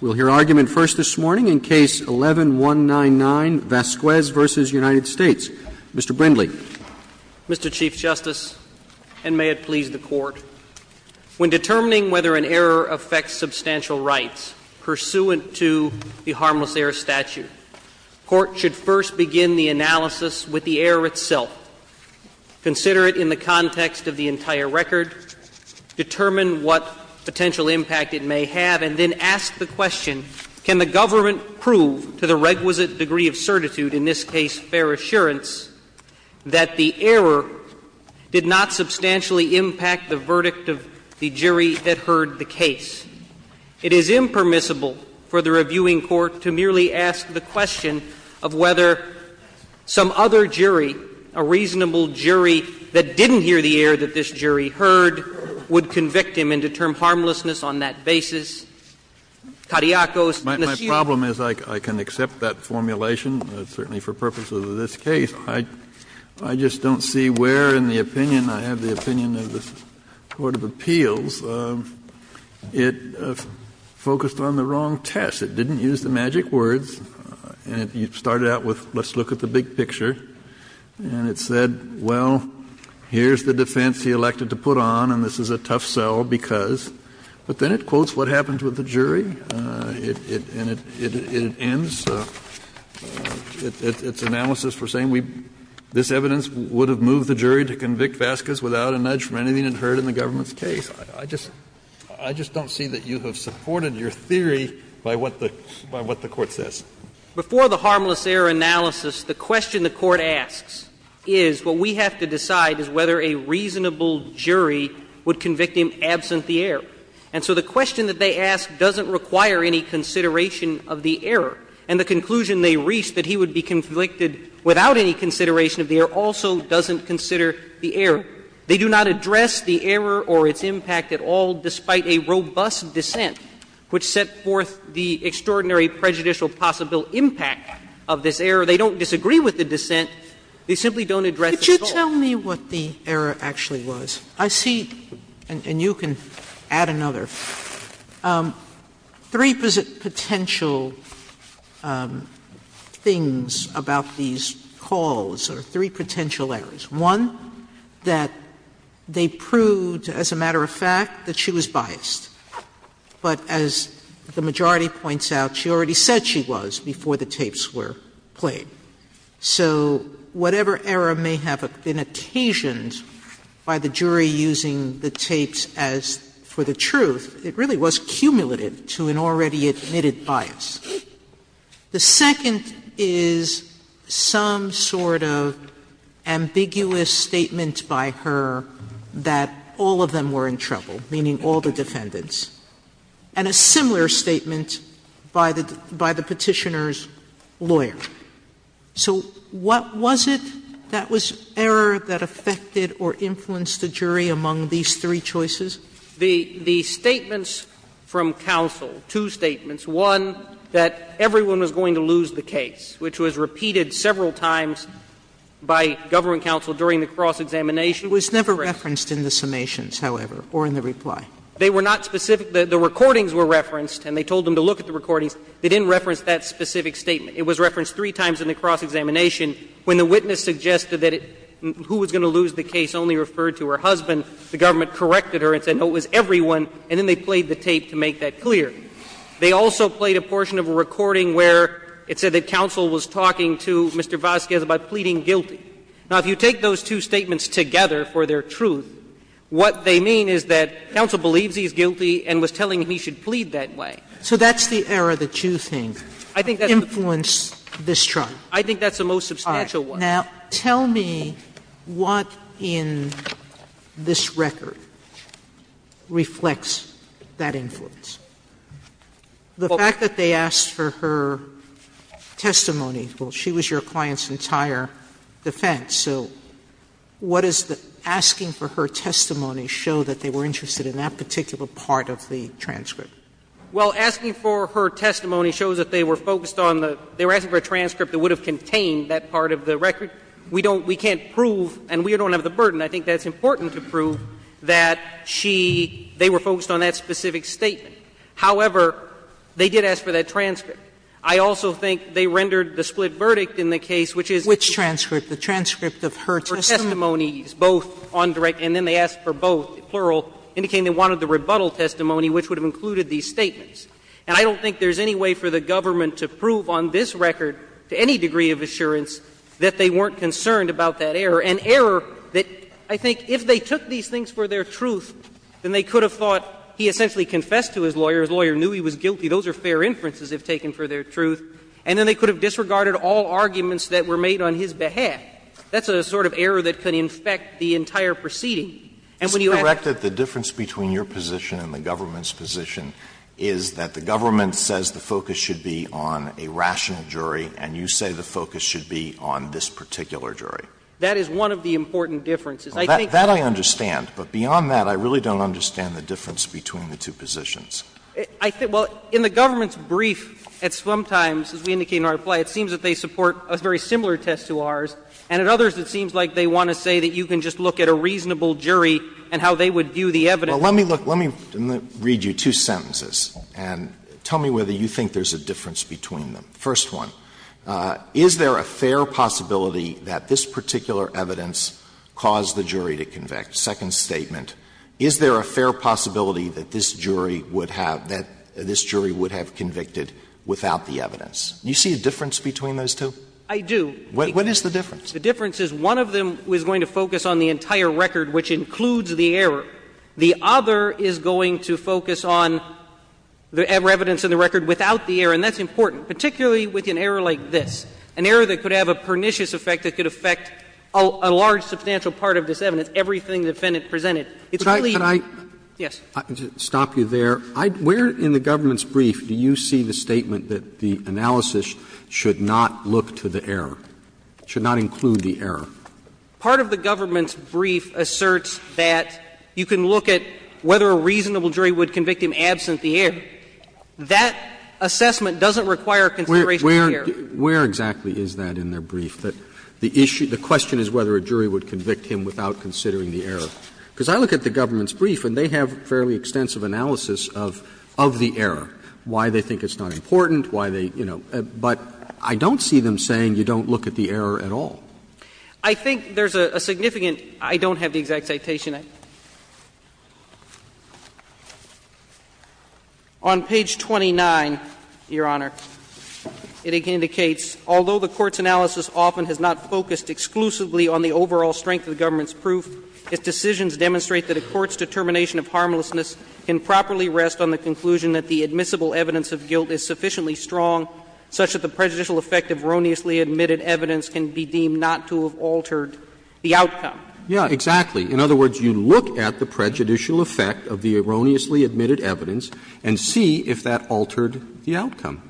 We'll hear argument first this morning in Case 11-199, Vasquez v. United States. Mr. Brindley. Mr. Chief Justice, and may it please the Court, when determining whether an error affects substantial rights pursuant to the harmless error statute, court should first begin the analysis with the error itself, consider it in the context of the case they have, and then ask the question, can the government prove to the requisite degree of certitude, in this case fair assurance, that the error did not substantially impact the verdict of the jury that heard the case? It is impermissible for the reviewing court to merely ask the question of whether some other jury, a reasonable jury that didn't hear the error that this jury heard, would convict him and determine harmlessness on that basis. My problem is I can accept that formulation, certainly for purposes of this case. I just don't see where in the opinion, I have the opinion of this Court of Appeals, it focused on the wrong test. It didn't use the magic words, and it started out with, let's look at the big picture, and it said, well, here's the defense he elected to put on, and this is a tough sell because. But then it quotes what happened with the jury, and it ends its analysis for saying we, this evidence would have moved the jury to convict Vasquez without a nudge from anything it heard in the government's case. I just don't see that you have supported your theory by what the Court says. Before the harmless error analysis, the question the Court asks is what we have to decide is whether a reasonable jury would convict him absent the error. And so the question that they ask doesn't require any consideration of the error. And the conclusion they reach, that he would be convicted without any consideration of the error, also doesn't consider the error. They do not address the error or its impact at all, despite a robust dissent which set forth the extraordinary prejudicial possible impact of this error. They don't disagree with the dissent. They simply don't address it at all. Sotomayor, could you tell me what the error actually was? I see, and you can add another, three potential things about these calls, or three potential errors. One, that they proved, as a matter of fact, that she was biased. But as the majority points out, she already said she was before the tapes were played. So whatever error may have been occasioned by the jury using the tapes as for the truth, it really was cumulative to an already admitted bias. The second is some sort of ambiguous statement by her that all of them were in trouble, meaning all the defendants, and a similar statement by the Petitioner's lawyer. So what was it that was error that affected or influenced the jury among these three choices? The statements from counsel, two statements, one, that everyone was going to lose the case, which was repeated several times by government counsel during the cross examination. It was never referenced in the summations, however, or in the reply. They were not specific. The recordings were referenced, and they told them to look at the recordings. They didn't reference that specific statement. It was referenced three times in the cross examination. When the witness suggested that who was going to lose the case only referred to her husband, the government corrected her and said, no, it was everyone, and then they played the tape to make that clear. They also played a portion of a recording where it said that counsel was talking to Mr. Vasquez about pleading guilty. Now, if you take those two statements together for their truth, what they mean is that counsel believes he's guilty and was telling him he should plead that way. So that's the error that you think influenced this trial? I think that's the most substantial one. Now, tell me what in this record reflects that influence. The fact that they asked for her testimony, well, she was your client's entire defense, so what does the asking for her testimony show that they were interested in that particular part of the transcript? Well, asking for her testimony shows that they were focused on the – they were asking for a transcript that would have contained that part of the record. We don't – we can't prove, and we don't have the burden, I think that's important to prove, that she – they were focused on that specific statement. However, they did ask for that transcript. Which transcript? The transcript of her testimony? For testimonies, both on direct – and then they asked for both, plural, indicating they wanted the rebuttal testimony, which would have included these statements. And I don't think there's any way for the government to prove on this record, to any degree of assurance, that they weren't concerned about that error, an error that I think if they took these things for their truth, then they could have thought he essentially confessed to his lawyer, his lawyer knew he was guilty, those are fair inferences if taken for their truth, and then they could have disregarded all arguments that were made on his behalf. That's a sort of error that could infect the entire proceeding. Alitoson This is correct that the difference between your position and the government's position is that the government says the focus should be on a rational jury, and you say the focus should be on this particular jury. That is one of the important differences. I think that I understand. But beyond that, I really don't understand the difference between the two positions. Well, in the government's brief at Swamp Times, as we indicated in our reply, it seems that they support a very similar test to ours, and at others it seems like they want to say that you can just look at a reasonable jury and how they would view the evidence. Alitoson Well, let me look, let me read you two sentences and tell me whether you think there's a difference between them. First one, is there a fair possibility that this particular evidence caused the jury to convict? Second statement, is there a fair possibility that this jury would have, that this jury would have convicted without the evidence? Do you see a difference between those two? Clement I do. Alitoson What is the difference? Clement The difference is one of them was going to focus on the entire record, which includes the error. The other is going to focus on the evidence in the record without the error, and that's important, particularly with an error like this, an error that could have a pernicious effect that could affect a large, substantial part of this evidence, everything the defendant presented. Roberts Yes. Roberts Stop you there. Where in the government's brief do you see the statement that the analysis should not look to the error, should not include the error? Clement Part of the government's brief asserts that you can look at whether a reasonable jury would convict him absent the error. That assessment doesn't require consideration of the error. Roberts Where exactly is that in their brief, that the issue, the question is whether a jury would convict him without considering the error? Because I look at the government's brief and they have fairly extensive analysis of the error, why they think it's not important, why they, you know, but I don't see them saying you don't look at the error at all. Clement I think there's a significant — I don't have the exact citation. On page 29, Your Honor, it indicates, Although the Court's analysis often has not focused exclusively on the overall strength of the government's proof, its decisions demonstrate that a court's determination of harmlessness can properly rest on the conclusion that the admissible evidence of guilt is sufficiently strong such that the prejudicial effect of erroneously admitted evidence can be deemed not to have altered the outcome. Roberts Yes, exactly. In other words, you look at the prejudicial effect of the erroneously admitted evidence and see if that altered the outcome.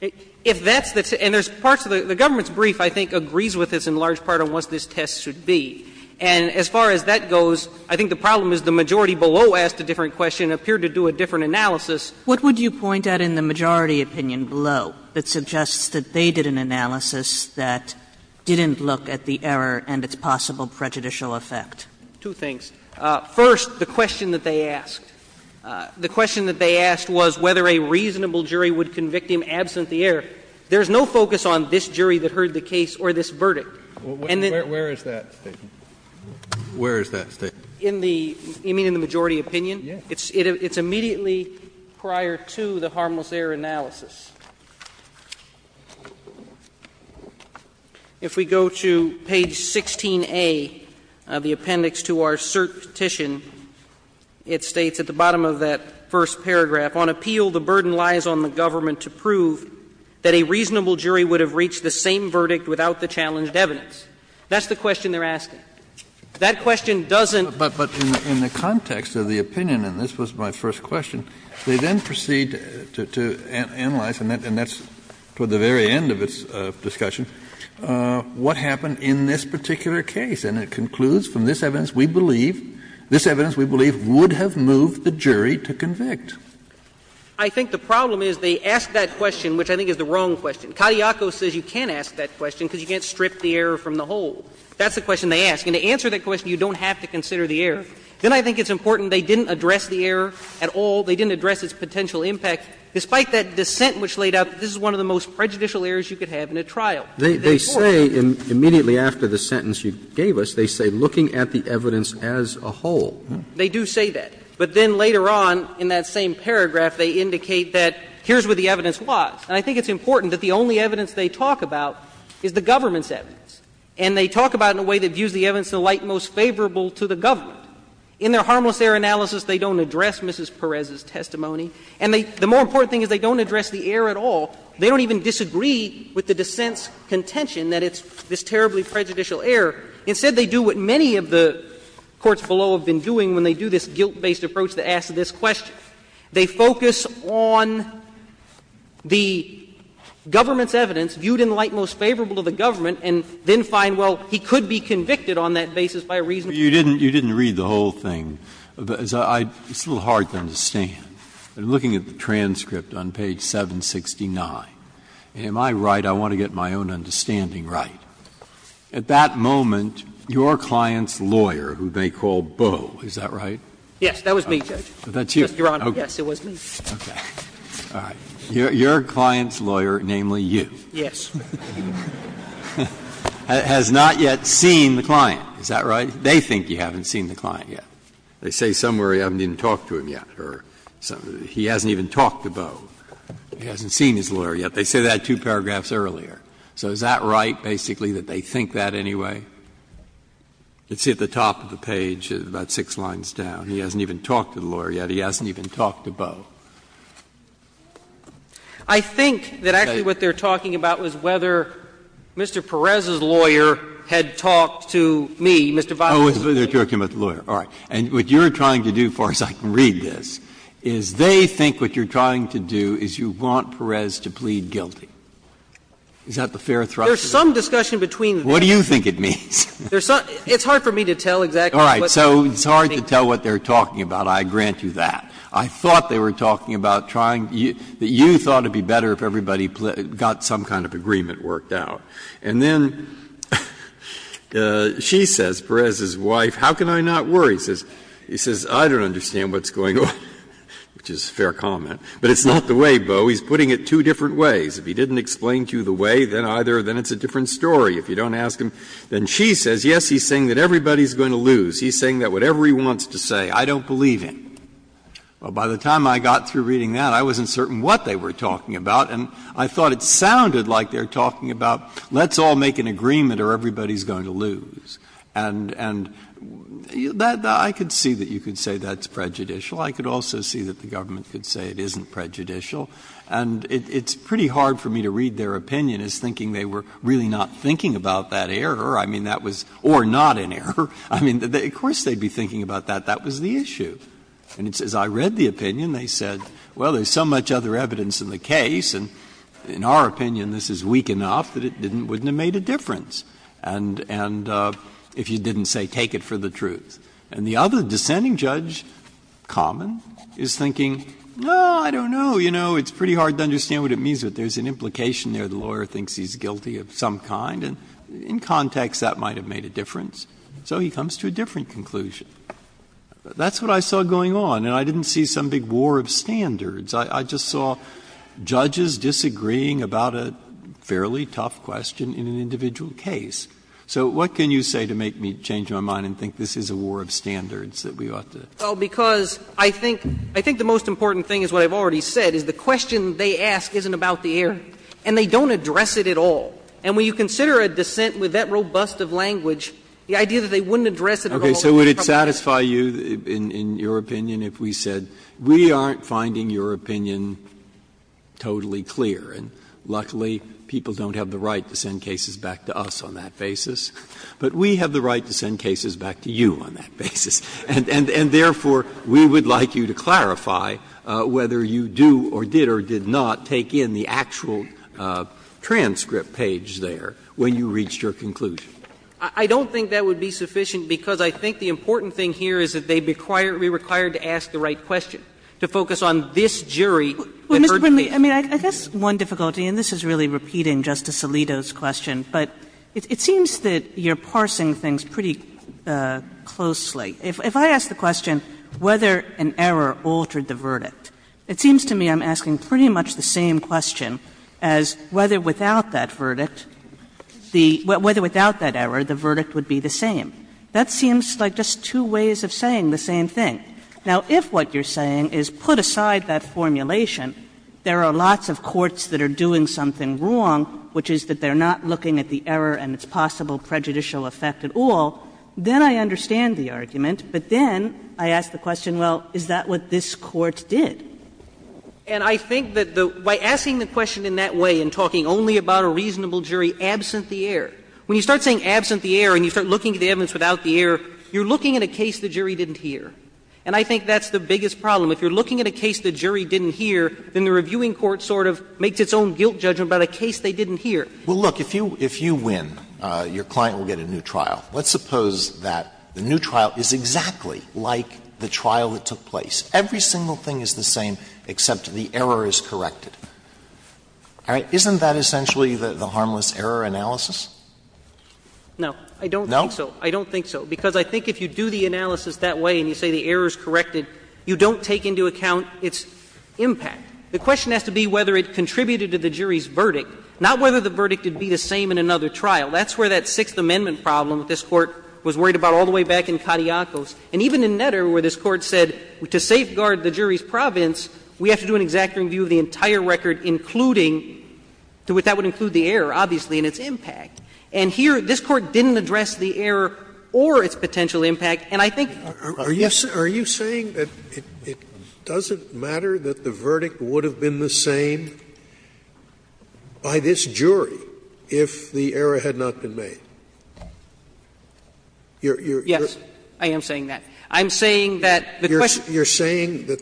Clement If that's the — and there's parts of the — the government's brief, I think, agrees with this in large part on what this test should be. And as far as that goes, I think the problem is the majority below asked a different question, appeared to do a different analysis. Kagan What would you point at in the majority opinion below that suggests that they did an analysis that didn't look at the error and its possible prejudicial effect? Clement Two things. First, the question that they asked. The question that they asked was whether a reasonable jury would convict him absent the error. There's no focus on this jury that heard the case or this verdict. And then — Kennedy Where is that statement? Where is that statement? Clement In the — you mean in the majority opinion? Kennedy Yes. Clement It's immediately prior to the harmless error analysis. If we go to page 16a of the appendix to our cert petition, it states that the majority jury would have reached the same verdict without the challenged evidence. That's the question they're asking. That question doesn't… Kennedy But in the context of the opinion, and this was my first question, they then proceed to analyze, and that's toward the very end of its discussion, what happened in this particular case. And it concludes from this evidence, we believe — this evidence, we believe, would have moved the jury to convict. Clement I think the problem is they ask that question, which I think is the wrong question. Katayakos says you can't ask that question because you can't strip the error from the whole. That's the question they ask. And to answer that question, you don't have to consider the error. Then I think it's important they didn't address the error at all. They didn't address its potential impact. Despite that dissent which laid out, this is one of the most prejudicial errors you could have in a trial. Roberts They say, immediately after the sentence you gave us, they say, looking at the evidence as a whole. They do say that. But then later on in that same paragraph, they indicate that here's what the evidence was. And I think it's important that the only evidence they talk about is the government's evidence. And they talk about it in a way that views the evidence in a light most favorable to the government. In their harmless error analysis, they don't address Mrs. Perez's testimony. And the more important thing is they don't address the error at all. They don't even disagree with the dissent's contention that it's this terribly prejudicial error. Instead, they do what many of the courts below have been doing when they do this guilt-based approach that asks this question. They focus on the government's evidence viewed in light most favorable to the government and then find, well, he could be convicted on that basis by a reasonable reason. Breyer You didn't read the whole thing. It's a little hard to understand. I'm looking at the transcript on page 769. Am I right? I want to get my own understanding right. At that moment, your client's lawyer, who they call Boe, is that right? Clement Yes, that was me, Judge. Breyer That's you. Clement Yes, it was me. Breyer Okay. All right. Your client's lawyer, namely you. Clement Yes. Breyer Has not yet seen the client. Is that right? They think you haven't seen the client yet. They say somewhere you haven't even talked to him yet or he hasn't even talked to Boe. He hasn't seen his lawyer yet. They say that two paragraphs earlier. So is that right, basically, that they think that anyway? You can see at the top of the page, about six lines down, he hasn't even talked to the lawyer yet, he hasn't even talked to Boe. Clement I think that actually what they're talking about was whether Mr. Perez's lawyer had talked to me, Mr. Viles. Breyer Oh, they're talking about the lawyer. All right. And what you're trying to do, as far as I can read this, is they think what you're trying to do is you want Perez to plead guilty. Is that the fair thrust of it? Clement There's some discussion between the two. Breyer What do you think it means? Clement There's some – it's hard for me to tell exactly what they're talking about. Breyer All right. So it's hard to tell what they're talking about. I grant you that. I thought they were talking about trying to – that you thought it would be better if everybody got some kind of agreement worked out. And then she says, Perez's wife, how can I not worry? He says, I don't understand what's going on, which is a fair comment. But it's not the way, Boe. He's putting it two different ways. If he didn't explain to you the way, then either, then it's a different story. If you don't ask him, then she says, yes, he's saying that everybody's going to lose. He's saying that whatever he wants to say, I don't believe him. Well, by the time I got through reading that, I wasn't certain what they were talking about, and I thought it sounded like they were talking about let's all make an agreement or everybody's going to lose. And I could see that you could say that's prejudicial. I could also see that the government could say it isn't prejudicial. And it's pretty hard for me to read their opinion as thinking they were really not thinking about that error. I mean, that was or not an error. I mean, of course they would be thinking about that. That was the issue. And as I read the opinion, they said, well, there's so much other evidence in the case, and in our opinion, this is weak enough that it wouldn't have made a difference and if you didn't say take it for the truth. And the other descending judge, Common, is thinking, no, I don't know. You know, it's pretty hard to understand what it means, but there's an implication there. The lawyer thinks he's guilty of some kind, and in context, that might have made a difference. So he comes to a different conclusion. That's what I saw going on, and I didn't see some big war of standards. I just saw judges disagreeing about a fairly tough question in an individual case. So what can you say to make me change my mind and think this is a war of standards that we ought to? Well, because I think the most important thing is what I've already said, is the question they ask isn't about the air, and they don't address it at all. And when you consider a dissent with that robust of language, the idea that they wouldn't address it at all would be problematic. Okay. So would it satisfy you, in your opinion, if we said, we aren't finding your opinion totally clear, and luckily, people don't have the right to send cases back to us on that basis, but we have the right to send cases back to you on that basis. And therefore, we would like you to clarify whether you do or did or did not take in the actual transcript page there when you reached your conclusion. I don't think that would be sufficient, because I think the important thing here is that they'd be required to ask the right question, to focus on this jury that heard the case. Kagan. I mean, I guess one difficulty, and this is really repeating Justice Alito's question, but it seems that you're parsing things pretty closely. If I ask the question whether an error altered the verdict, it seems to me I'm asking pretty much the same question as whether without that verdict, the — whether without that error, the verdict would be the same. That seems like just two ways of saying the same thing. Now, if what you're saying is, put aside that formulation, there are lots of courts that are doing something wrong, which is that they're not looking at the error and judgment, but then I ask the question, well, is that what this Court did? And I think that the — by asking the question in that way and talking only about a reasonable jury absent the error, when you start saying absent the error and you start looking at the evidence without the error, you're looking at a case the jury didn't hear. And I think that's the biggest problem. If you're looking at a case the jury didn't hear, then the reviewing court sort of makes its own guilt judgment about a case they didn't hear. Well, look, if you win, your client will get a new trial. Let's suppose that the new trial is exactly like the trial that took place. Every single thing is the same except the error is corrected. All right? Isn't that essentially the harmless error analysis? No. I don't think so. No? I don't think so, because I think if you do the analysis that way and you say the error is corrected, you don't take into account its impact. The question has to be whether it contributed to the jury's verdict, not whether the verdict would be the same in another trial. That's where that Sixth Amendment problem that this Court was worried about all the way back in Katiakos, and even in Netter, where this Court said to safeguard the jury's province, we have to do an exacting review of the entire record, including to what that would include the error, obviously, and its impact. And here, this Court didn't address the error or its potential impact, and I think yes. Scalia. Are you saying that it doesn't matter that the verdict would have been the same by this jury if the error had not been made? You're saying that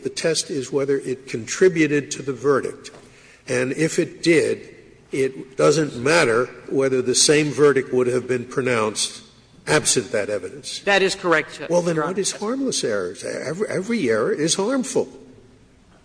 the test is whether it contributed to the verdict, and if it did, it doesn't matter whether the same verdict would have been pronounced absent that evidence? That is correct, Your Honor. Well, then what is harmless error? Every error is harmful.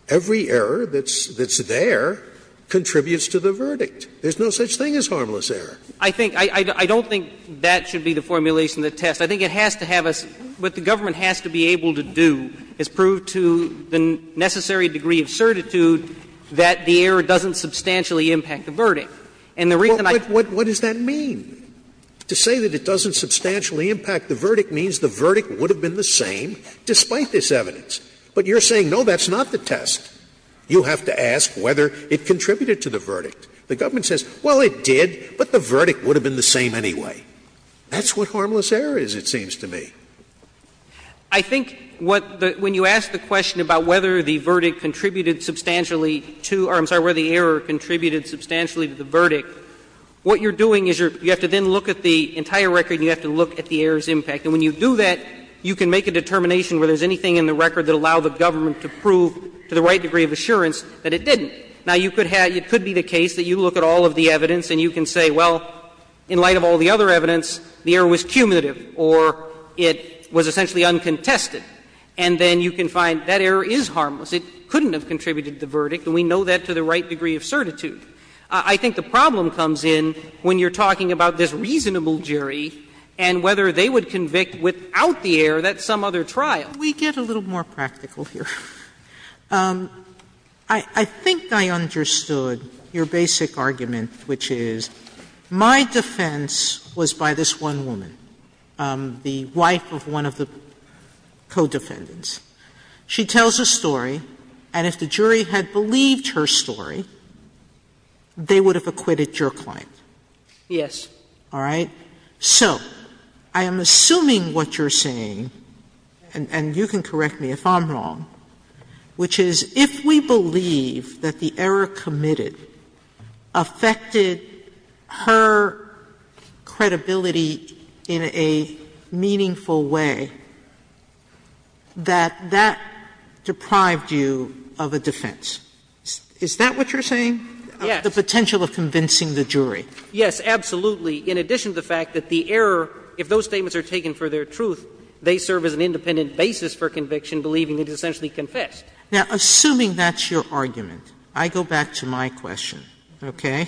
Every error that's there contributes to the verdict. There's no such thing as harmless error. I think — I don't think that should be the formulation of the test. I think it has to have a — what the government has to be able to do is prove to the necessary degree of certitude that the error doesn't substantially impact the verdict. And the reason I— What does that mean? To say that it doesn't substantially impact the verdict means the verdict would have been the same despite this evidence. But you're saying, no, that's not the test. You have to ask whether it contributed to the verdict. The government says, well, it did, but the verdict would have been the same anyway. That's what harmless error is, it seems to me. I think what the — when you ask the question about whether the verdict contributed substantially to — or I'm sorry, whether the error contributed substantially to the verdict, what you're doing is you have to then look at the entire record and you have to look at the error's impact. And when you do that, you can make a determination whether there's anything in the record that will allow the government to prove to the right degree of assurance that it didn't. Now, you could have — it could be the case that you look at all of the evidence and you can say, well, in light of all the other evidence, the error was cumulative or it was essentially uncontested, and then you can find that error is harmless. It couldn't have contributed to the verdict, and we know that to the right degree of certitude. I think the problem comes in when you're talking about this reasonable jury and whether they would convict without the error that some other trial. Sotomayor, we get a little more practical here. I think I understood your basic argument, which is my defense was by this one woman, the wife of one of the co-defendants. She tells a story, and if the jury had believed her story, they would have acquitted your client. Yes. All right? So I am assuming what you're saying, and you can correct me if I'm wrong, which is if we believe that the error committed affected her credibility in a meaningful way, that that deprived you of a defense. Is that what you're saying? Yes. The potential of convincing the jury. Yes, absolutely. In addition to the fact that the error, if those statements are taken for their truth, they serve as an independent basis for conviction, believing that it essentially confessed. Now, assuming that's your argument, I go back to my question, okay?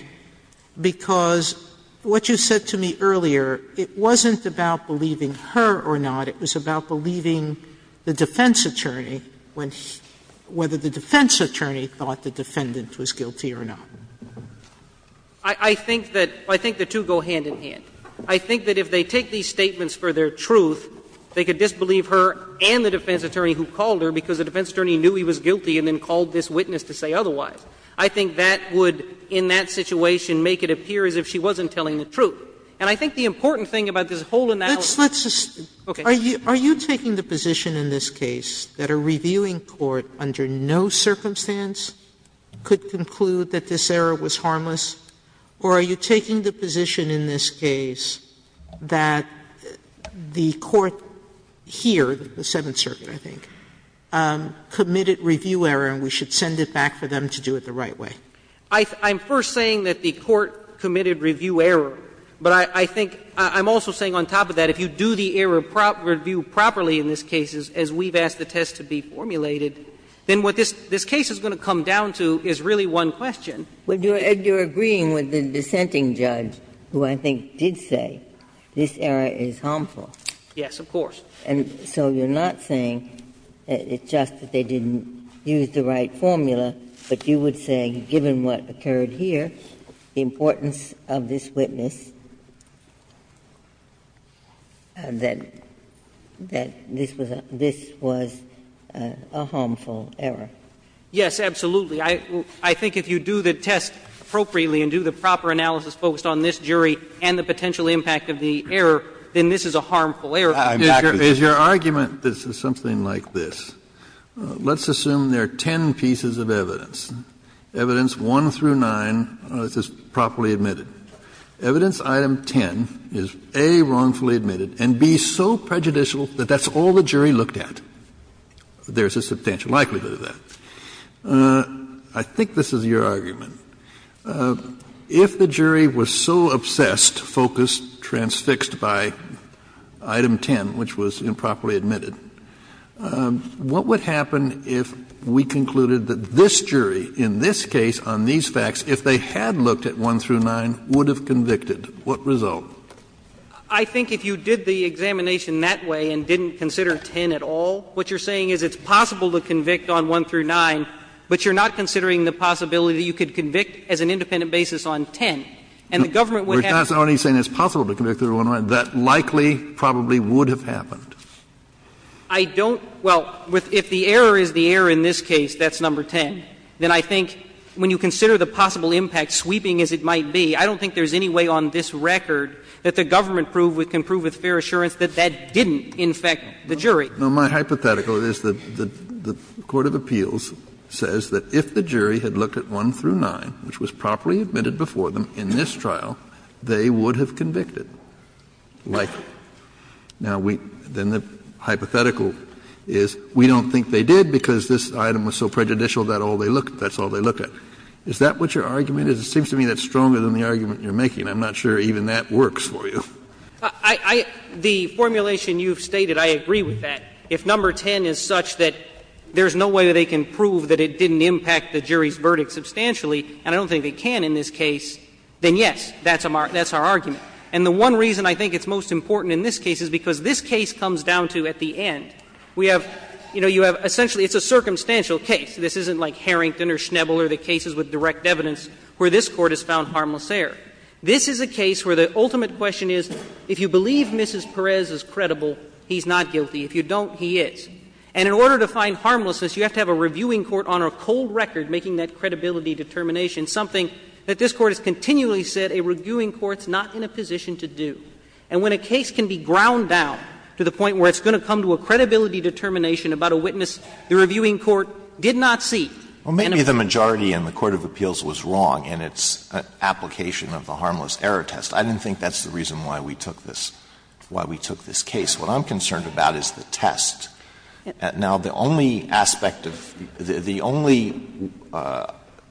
Because what you said to me earlier, it wasn't about believing her or not. It was about believing the defense attorney when he – whether the defense attorney thought the defendant was guilty or not. I think that – I think the two go hand-in-hand. I think that if they take these statements for their truth, they could disbelieve her and the defense attorney who called her because the defense attorney knew he was guilty and then called this witness to say otherwise. I think that would, in that situation, make it appear as if she wasn't telling the truth. And I think the important thing about this whole analysis – Sotomayor, are you taking the position in this case that a reviewing court under no circumstance could conclude that this error was harmless, or are you taking the position in this case that the court here, the Seventh Circuit, I think, committed review error and we should send it back for them to do it the right way? I'm first saying that the court committed review error, but I think – I'm also saying on top of that, if you do the error review properly in this case, as we've the test to be formulated, then what this case is going to come down to is really one question. Ginsburg, you're agreeing with the dissenting judge, who I think did say this error is harmful. Yes, of course. And so you're not saying it's just that they didn't use the right formula, but you would say, given what occurred here, the importance of this witness, that this was a harmful error. Yes, absolutely. I think if you do the test appropriately and do the proper analysis focused on this jury and the potential impact of the error, then this is a harmful error. Exactly. If your argument is something like this, let's assume there are ten pieces of evidence, evidence 1 through 9, this is properly admitted. Evidence item 10 is, A, wrongfully admitted, and, B, so prejudicial that that's all the jury looked at. There's a substantial likelihood of that. I think this is your argument. If the jury was so obsessed, focused, transfixed by item 10, which was improperly admitted, what would happen if we concluded that this jury in this case on these facts, if they had looked at 1 through 9, would have convicted? What result? I think if you did the examination that way and didn't consider 10 at all, what you're saying is it's possible to convict on 1 through 9, but you're not considering the possibility you could convict as an independent basis on 10. And the government would have to do that. We're not only saying it's possible to convict on 1 through 9. That likely probably would have happened. I don't — well, if the error is the error in this case, that's number 10. Then I think when you consider the possible impact, sweeping as it might be, I don't think there's any way on this record that the government can prove with fair assurance that that didn't infect the jury. Kennedy No, my hypothetical is that the court of appeals says that if the jury had looked at 1 through 9, which was properly admitted before them in this trial, they would have convicted. Now, we — then the hypothetical is we don't think they did because this item was so prejudicial that all they looked — that's all they looked at. Is that what your argument is? It seems to me that's stronger than the argument you're making. I'm not sure even that works for you. Clement I — the formulation you've stated, I agree with that. If number 10 is such that there's no way that they can prove that it didn't impact the jury's verdict substantially, and I don't think they can in this case, then, yes, that's a — that's our argument. And the one reason I think it's most important in this case is because this case comes down to, at the end, we have — you know, you have — essentially, it's a circumstantial case. This isn't like Harrington or Schnebel or the cases with direct evidence where this Court has found harmless error. This is a case where the ultimate question is, if you believe Mrs. Perez is credible, he's not guilty. If you don't, he is. And in order to find harmlessness, you have to have a reviewing court on a cold record making that credibility determination, something that this Court has continually said a reviewing court's not in a position to do. And when a case can be ground down to the point where it's going to come to a credibility determination about a witness the reviewing court did not see, and it's not in a position to do that, it's not going to be a good case. Alitoso, I think you're right in saying that the only aspect of the — the only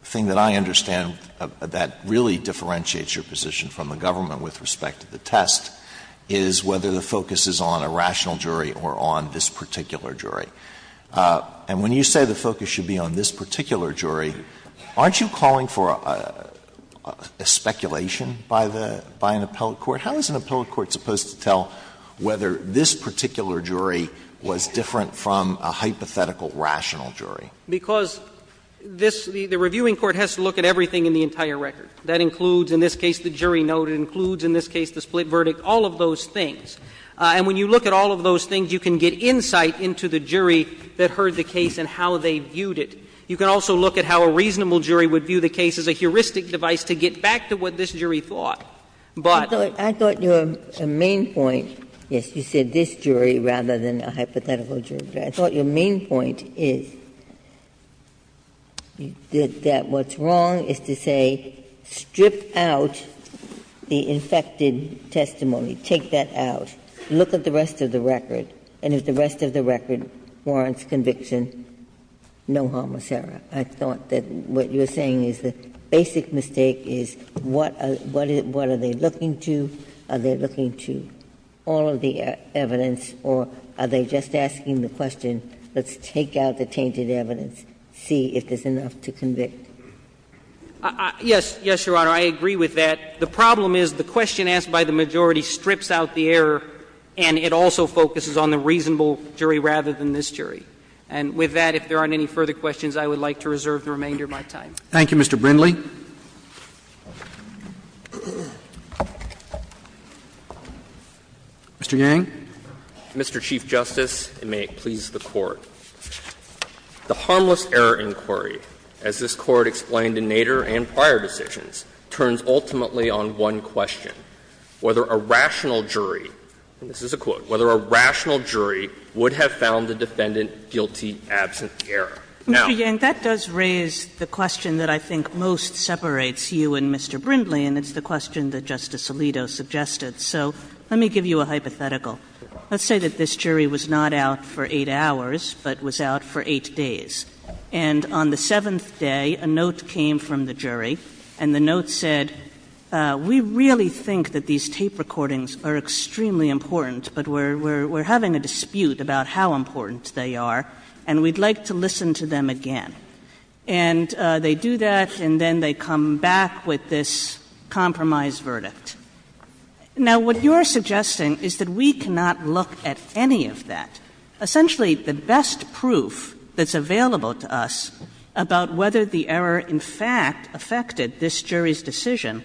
thing that I understand that really differentiates your position from the government with respect to the test is whether the focus is on a rational jury or on this particular case. The focus should be on this particular jury, and when you say the focus should be on this particular jury, aren't you calling for a speculation by the — by an appellate court? How is an appellate court supposed to tell whether this particular jury was different from a hypothetical rational jury? Because this — the reviewing court has to look at everything in the entire record. That includes, in this case, the jury note. It includes, in this case, the split verdict. All of those things. And when you look at all of those things, you can get insight into the jury that heard the case and how they viewed it. You can also look at how a reasonable jury would view the case as a heuristic device to get back to what this jury thought. But — Ginsburg. I thought your main point — yes, you said this jury rather than a hypothetical jury, but I thought your main point is that what's wrong is to say, strip out the infected testimony, take that out. Look at the rest of the record, and if the rest of the record warrants conviction, no harm was done. I thought that what you were saying is the basic mistake is what are they looking to? Are they looking to all of the evidence, or are they just asking the question, let's take out the tainted evidence, see if there's enough to convict? Yes. Yes, Your Honor, I agree with that. The problem is the question asked by the majority strips out the error, and it also focuses on the reasonable jury rather than this jury. And with that, if there aren't any further questions, I would like to reserve the remainder of my time. Thank you, Mr. Brindley. Mr. Yang. Mr. Chief Justice, and may it please the Court. The harmless error inquiry, as this Court explained in Nader and prior decisions, turns ultimately on one question, whether a rational jury, and this is a quote, whether a rational jury would have found the defendant guilty absent the error. Now. Mr. Yang, that does raise the question that I think most separates you and Mr. Brindley, and it's the question that Justice Alito suggested. So let me give you a hypothetical. Let's say that this jury was not out for 8 hours, but was out for 8 days. And on the 7th day, a note came from the jury, and the note said, we really think that these tape recordings are extremely important, but we're having a dispute about how important they are, and we'd like to listen to them again. And they do that, and then they come back with this compromised verdict. Now, what you're suggesting is that we cannot look at any of that. Essentially, the best proof that's available to us about whether the error, in fact, affected this jury's decision,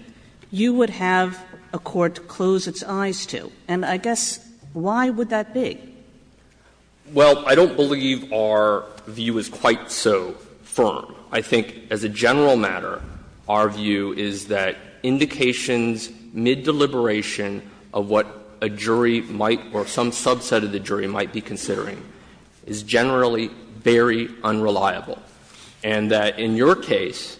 you would have a court close its eyes to. And I guess, why would that be? Yang, I don't believe our view is quite so firm. I think as a general matter, our view is that indications mid-deliberation of what a jury might, or some subset of the jury might be considering, is generally very unreliable, and that in your case,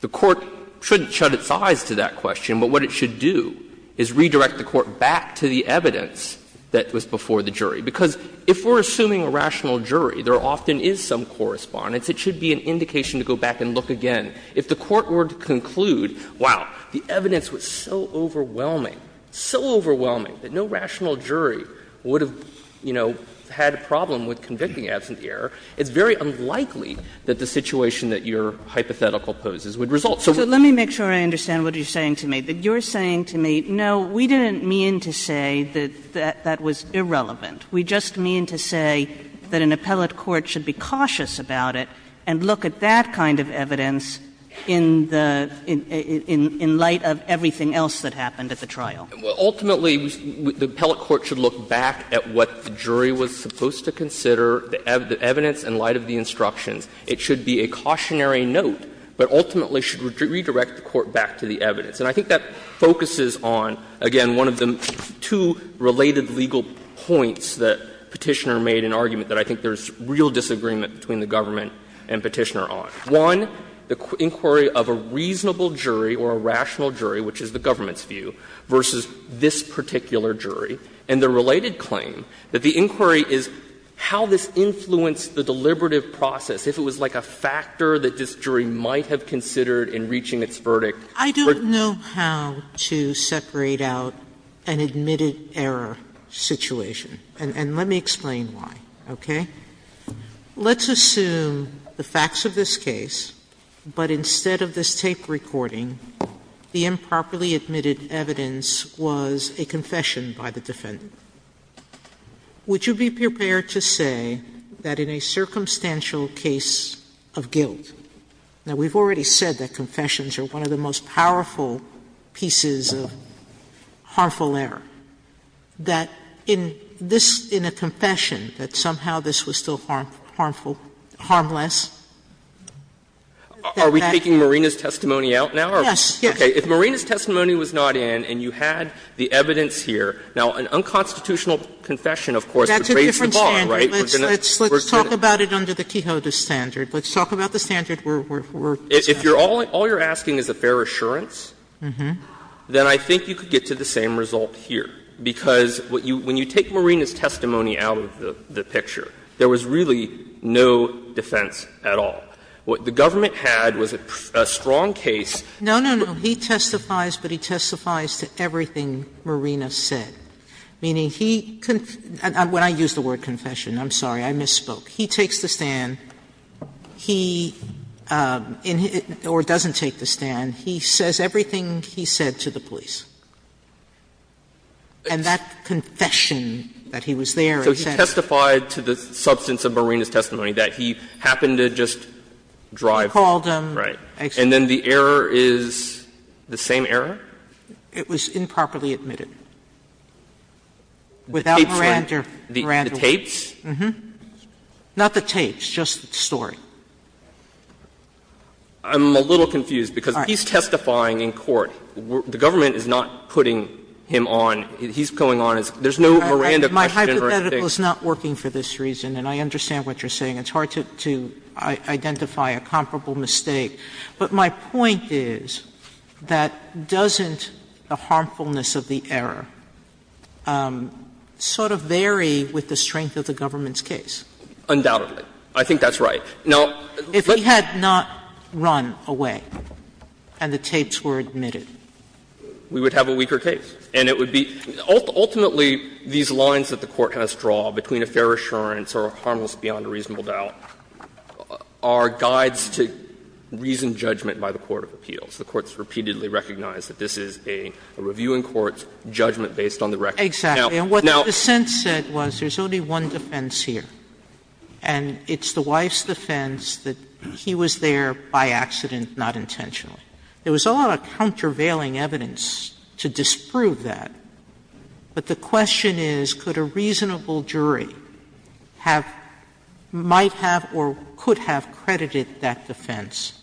the court shouldn't shut its eyes to that question. But what it should do is redirect the court back to the evidence that was before the jury. Because if we're assuming a rational jury, there often is some correspondence. It should be an indication to go back and look again. If the court were to conclude, wow, the evidence was so overwhelming, so overwhelming that no rational jury would have, you know, had a problem with convicting absentee error, it's very unlikely that the situation that your hypothetical poses would result. So let me make sure I understand what you're saying to me. You're saying to me, no, we didn't mean to say that that was irrelevant. We just mean to say that an appellate court should be cautious about it and look at that kind of evidence in the — in light of everything else that happened at the trial. Well, ultimately, the appellate court should look back at what the jury was supposed to consider, the evidence in light of the instructions. It should be a cautionary note, but ultimately should redirect the court back to the evidence. And I think that focuses on, again, one of the two related legal points that Petitioner made in argument that I think there's real disagreement between the government and Petitioner on. One, the inquiry of a reasonable jury or a rational jury, which is the government's view, versus this particular jury. And the related claim that the inquiry is how this influenced the deliberative process, if it was like a factor that this jury might have considered in reaching its verdict. Sotomayor, I don't know how to separate out an admitted error situation, and let me explain why, okay? Let's assume the facts of this case, but instead of this tape recording, the improperly admitted evidence was a confession by the defendant. Would you be prepared to say that in a circumstantial case of guilt — now, we've already said that confessions are one of the most powerful pieces of harmful error that in this — in a confession that somehow this was still harmful, harmless? Are we taking Marina's testimony out now? Yes. Yes. Okay. If Marina's testimony was not in and you had the evidence here, now, an unconstitutional confession, of course, pervades the bar, right? That's a different standard. Let's talk about it under the Quixota standard. Let's talk about the standard where we're — If all you're asking is a fair assurance, then I think you could get to the same result here, because what you — when you take Marina's testimony out of the picture, there was really no defense at all. What the government had was a strong case. Sotomayor, No, no, no. He testifies, but he testifies to everything Marina said, meaning he — when I use the word confession, I'm sorry, I misspoke — he takes the stand, he — or doesn't take the stand, he says everything he said to the police. And that confession that he was there and said — So he testified to the substance of Marina's testimony, that he happened to just drive — He called them — Right. And then the error is the same error? It was improperly admitted. Without Miranda — The tapes? Uh-huh. Not the tapes, just the story. I'm a little confused, because he's testifying in court. The government is not putting him on — he's going on as — there's no Miranda question or anything. My hypothetical is not working for this reason, and I understand what you're saying. It's hard to identify a comparable mistake. But my point is that doesn't the harmfulness of the error sort of vary with the strength of the government's case? Undoubtedly. I think that's right. Now, let's — And the tapes were admitted. We would have a weaker case. And it would be — ultimately, these lines that the Court has draw between a fair assurance or a harmlessness beyond a reasonable doubt are guides to reasoned judgment by the court of appeals. The Court has repeatedly recognized that this is a review in court, judgment based on the record. Exactly. And what the defense said was there's only one defense here, and it's the wife's defense that he was there by accident, not intentionally. There was a lot of countervailing evidence to disprove that. But the question is, could a reasonable jury have — might have or could have credited that defense?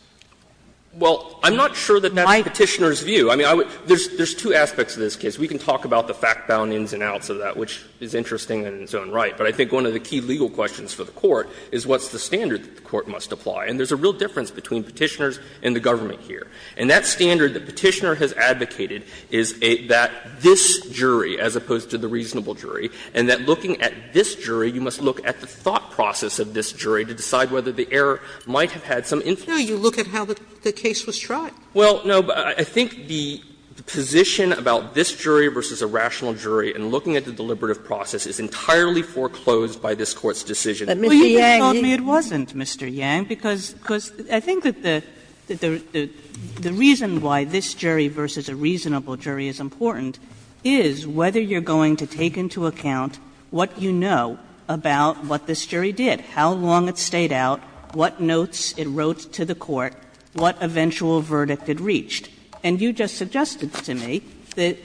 Well, I'm not sure that that's the Petitioner's view. I mean, I would — there's two aspects to this case. We can talk about the fact-bound ins and outs of that, which is interesting in its own right. But I think one of the key legal questions for the Court is what's the standard that the Court must apply. And there's a real difference between Petitioners and the government here. And that standard that Petitioner has advocated is that this jury, as opposed to the reasonable jury, and that looking at this jury, you must look at the thought process of this jury to decide whether the error might have had some influence. Sotomayor, you look at how the case was tried. Well, no, but I think the position about this jury versus a rational jury and looking at the deliberative process is entirely foreclosed by this Court's decision. But, Mr. Yang, you can't do that. Kagan, it wasn't, Mr. Yang, because I think that the reason why this jury versus a reasonable jury is important is whether you're going to take into account what you know about what this jury did, how long it stayed out, what notes it wrote to the court, what eventual verdict it reached. And you just suggested to me that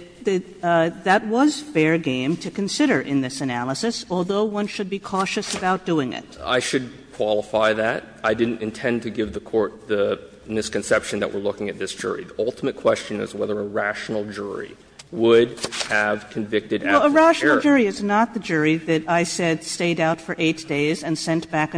that was fair game to consider in this analysis, although one should be cautious about doing it. Yang, I should qualify that. I didn't intend to give the Court the misconception that we're looking at this jury. The ultimate question is whether a rational jury would have convicted after the error. Kagan, a rational jury is not the jury that I said stayed out for 8 days and sent That's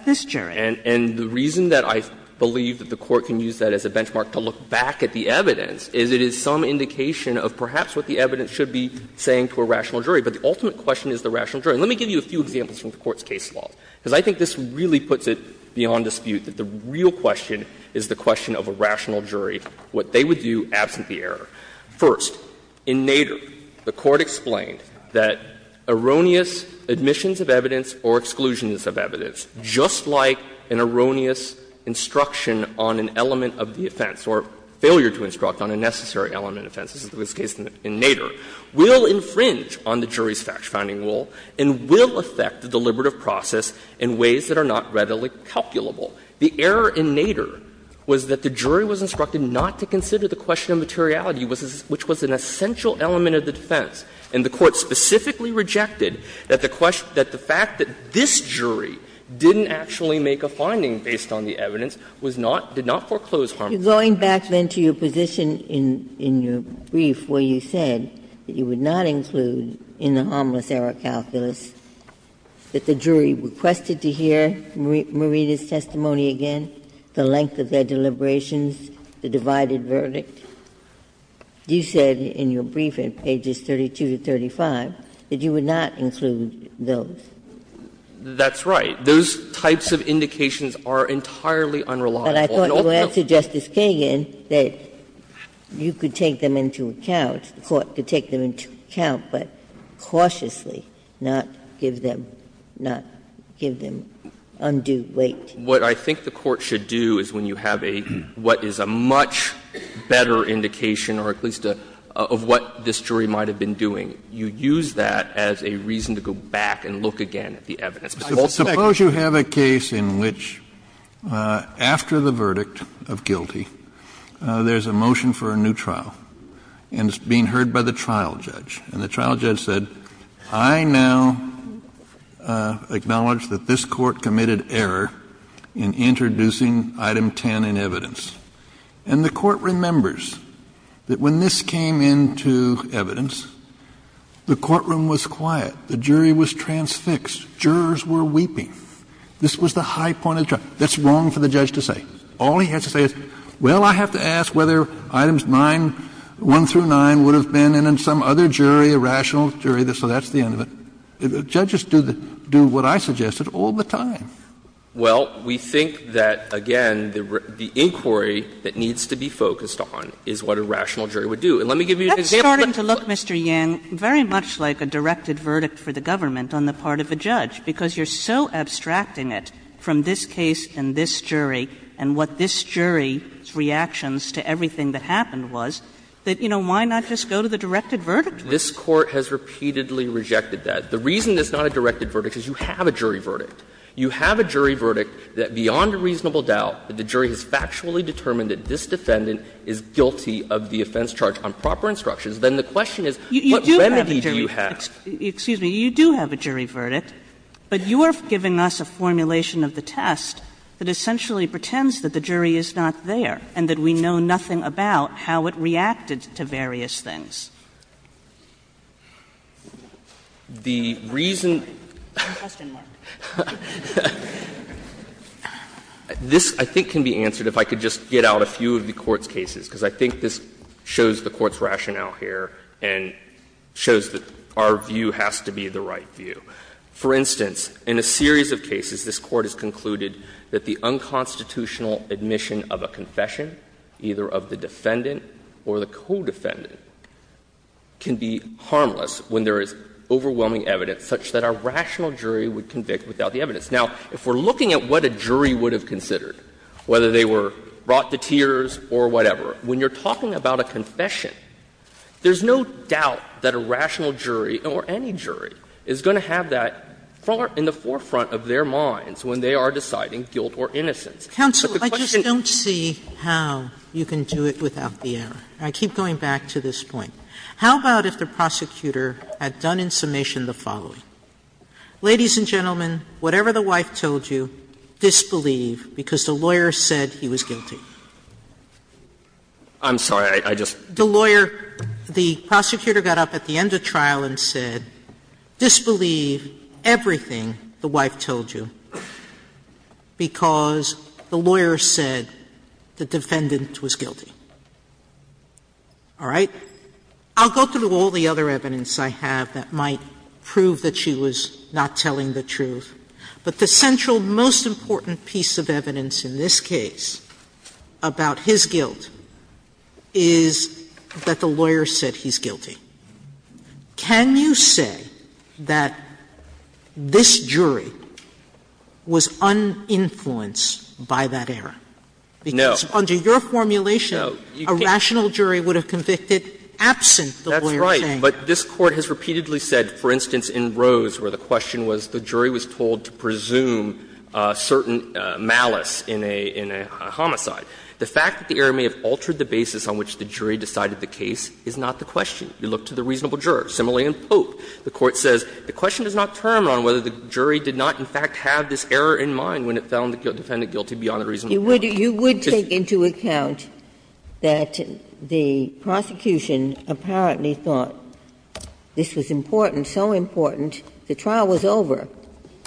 this jury. And the reason that I believe that the Court can use that as a benchmark to look back at the evidence is it is some indication of perhaps what the evidence should be saying to a rational jury. But the ultimate question is the rational jury. And let me give you a few examples from the Court's case law, because I think this really puts it beyond dispute that the real question is the question of a rational jury, what they would do absent the error. First, in Nader, the Court explained that erroneous admissions of evidence or exclusions of evidence, just like an erroneous instruction on an element of the offense or failure to instruct on a necessary element of offense, as was the case in Nader, will infringe on the jury's fact-finding rule and will affect the deliberative process in ways that are not readily calculable. The error in Nader was that the jury was instructed not to consider the question of materiality, which was an essential element of the defense. And the Court specifically rejected that the fact that this jury didn't actually make a finding based on the evidence was not, did not foreclose harmless error. Ginsburg-Coper, you're going back, then, to your position in your brief where you said that you would not include in the harmless error calculus that the jury requested to hear Marita's testimony again, the length of their deliberations, the divided verdict. You said in your brief at pages 32 to 35 that you would not include those. That's right. Those types of indications are entirely unreliable. But I thought you answered Justice Kagan that you could take them into account, the Court could take them into account, but cautiously, not give them undue weight. What I think the Court should do is when you have a, what is a much better indication, or at least a, of what this jury might have been doing, you use that as a reason to go back and look again at the evidence. But also, I suspect Suppose you have a case in which, after the verdict of guilty, there's a motion for a new trial, and it's being heard by the trial judge, and the trial judge said, I now acknowledge that this Court committed error in introducing item 10 in evidence. And the Court remembers that when this came into evidence, the courtroom was quiet. The jury was transfixed. Jurors were weeping. This was the high point of the trial. That's wrong for the judge to say. All he has to say is, well, I have to ask whether items 9, 1 through 9, would have been in some other jury, a rational jury, so that's the end of it. Judges do what I suggested all the time. Well, we think that, again, the inquiry that needs to be focused on is what a rational jury would do. And let me give you an example. Kagan That's starting to look, Mr. Yang, very much like a directed verdict for the government on the part of a judge, because you're so abstracting it from this case and this jury, and what this jury's reactions to everything that happened was, that, you know, why not just go to the directed verdict? Yang This Court has repeatedly rejected that. The reason it's not a directed verdict is you have a jury verdict. You have a jury verdict that, beyond a reasonable doubt, that the jury has factually determined that this defendant is guilty of the offense charged on proper instructions, then the question is, what remedy do you have? Kagan You do have a jury verdict, but you are giving us a formulation of the test that essentially pretends that the jury is not there and that we know nothing about how the jury reacted and what reacted to various things. Yang The reason the Court's rationale here and shows that our view has to be the right view, for instance, in a series of cases, this Court has concluded that the unconstitutional admission of a confession, either of the defendant or the co-defendant, can be harmless when there is overwhelming evidence such that a rational jury would convict without the evidence. Now, if we're looking at what a jury would have considered, whether they were brought to tears or whatever, when you're talking about a confession, there's no doubt that a rational jury or any jury is going to have that in the forefront of their minds when they are deciding guilt or innocence. Sotomayor Counsel, I just don't see how you can do it without the error. I keep going back to this point. How about if the prosecutor had done in summation the following? Ladies and gentlemen, whatever the wife told you, disbelieve, because the lawyer said he was guilty. Yang I'm sorry. I just don't. Sotomayor The lawyer, the prosecutor got up at the end of trial and said, disbelieve everything the wife told you, because the lawyer said the defendant was guilty. All right? I'll go through all the other evidence I have that might prove that she was not telling the truth, but the central most important piece of evidence in this case about his guilt is that the lawyer said he's guilty. Can you say that this jury was uninfluenced by that error? No. Sotomayor Because under your formulation, a rational jury would have convicted absent the lawyer saying. Yang That's right, but this Court has repeatedly said, for instance, in Rose, where the question was the jury was told to presume certain malice in a homicide. The fact that the error may have altered the basis on which the jury decided the case is not the question. You look to the reasonable juror. Similarly, in Pope, the Court says the question does not turn on whether the jury did not, in fact, have this error in mind when it found the defendant guilty beyond a reasonable doubt. Ginsburg You would take into account that the prosecution apparently thought this was important, so important, the trial was over.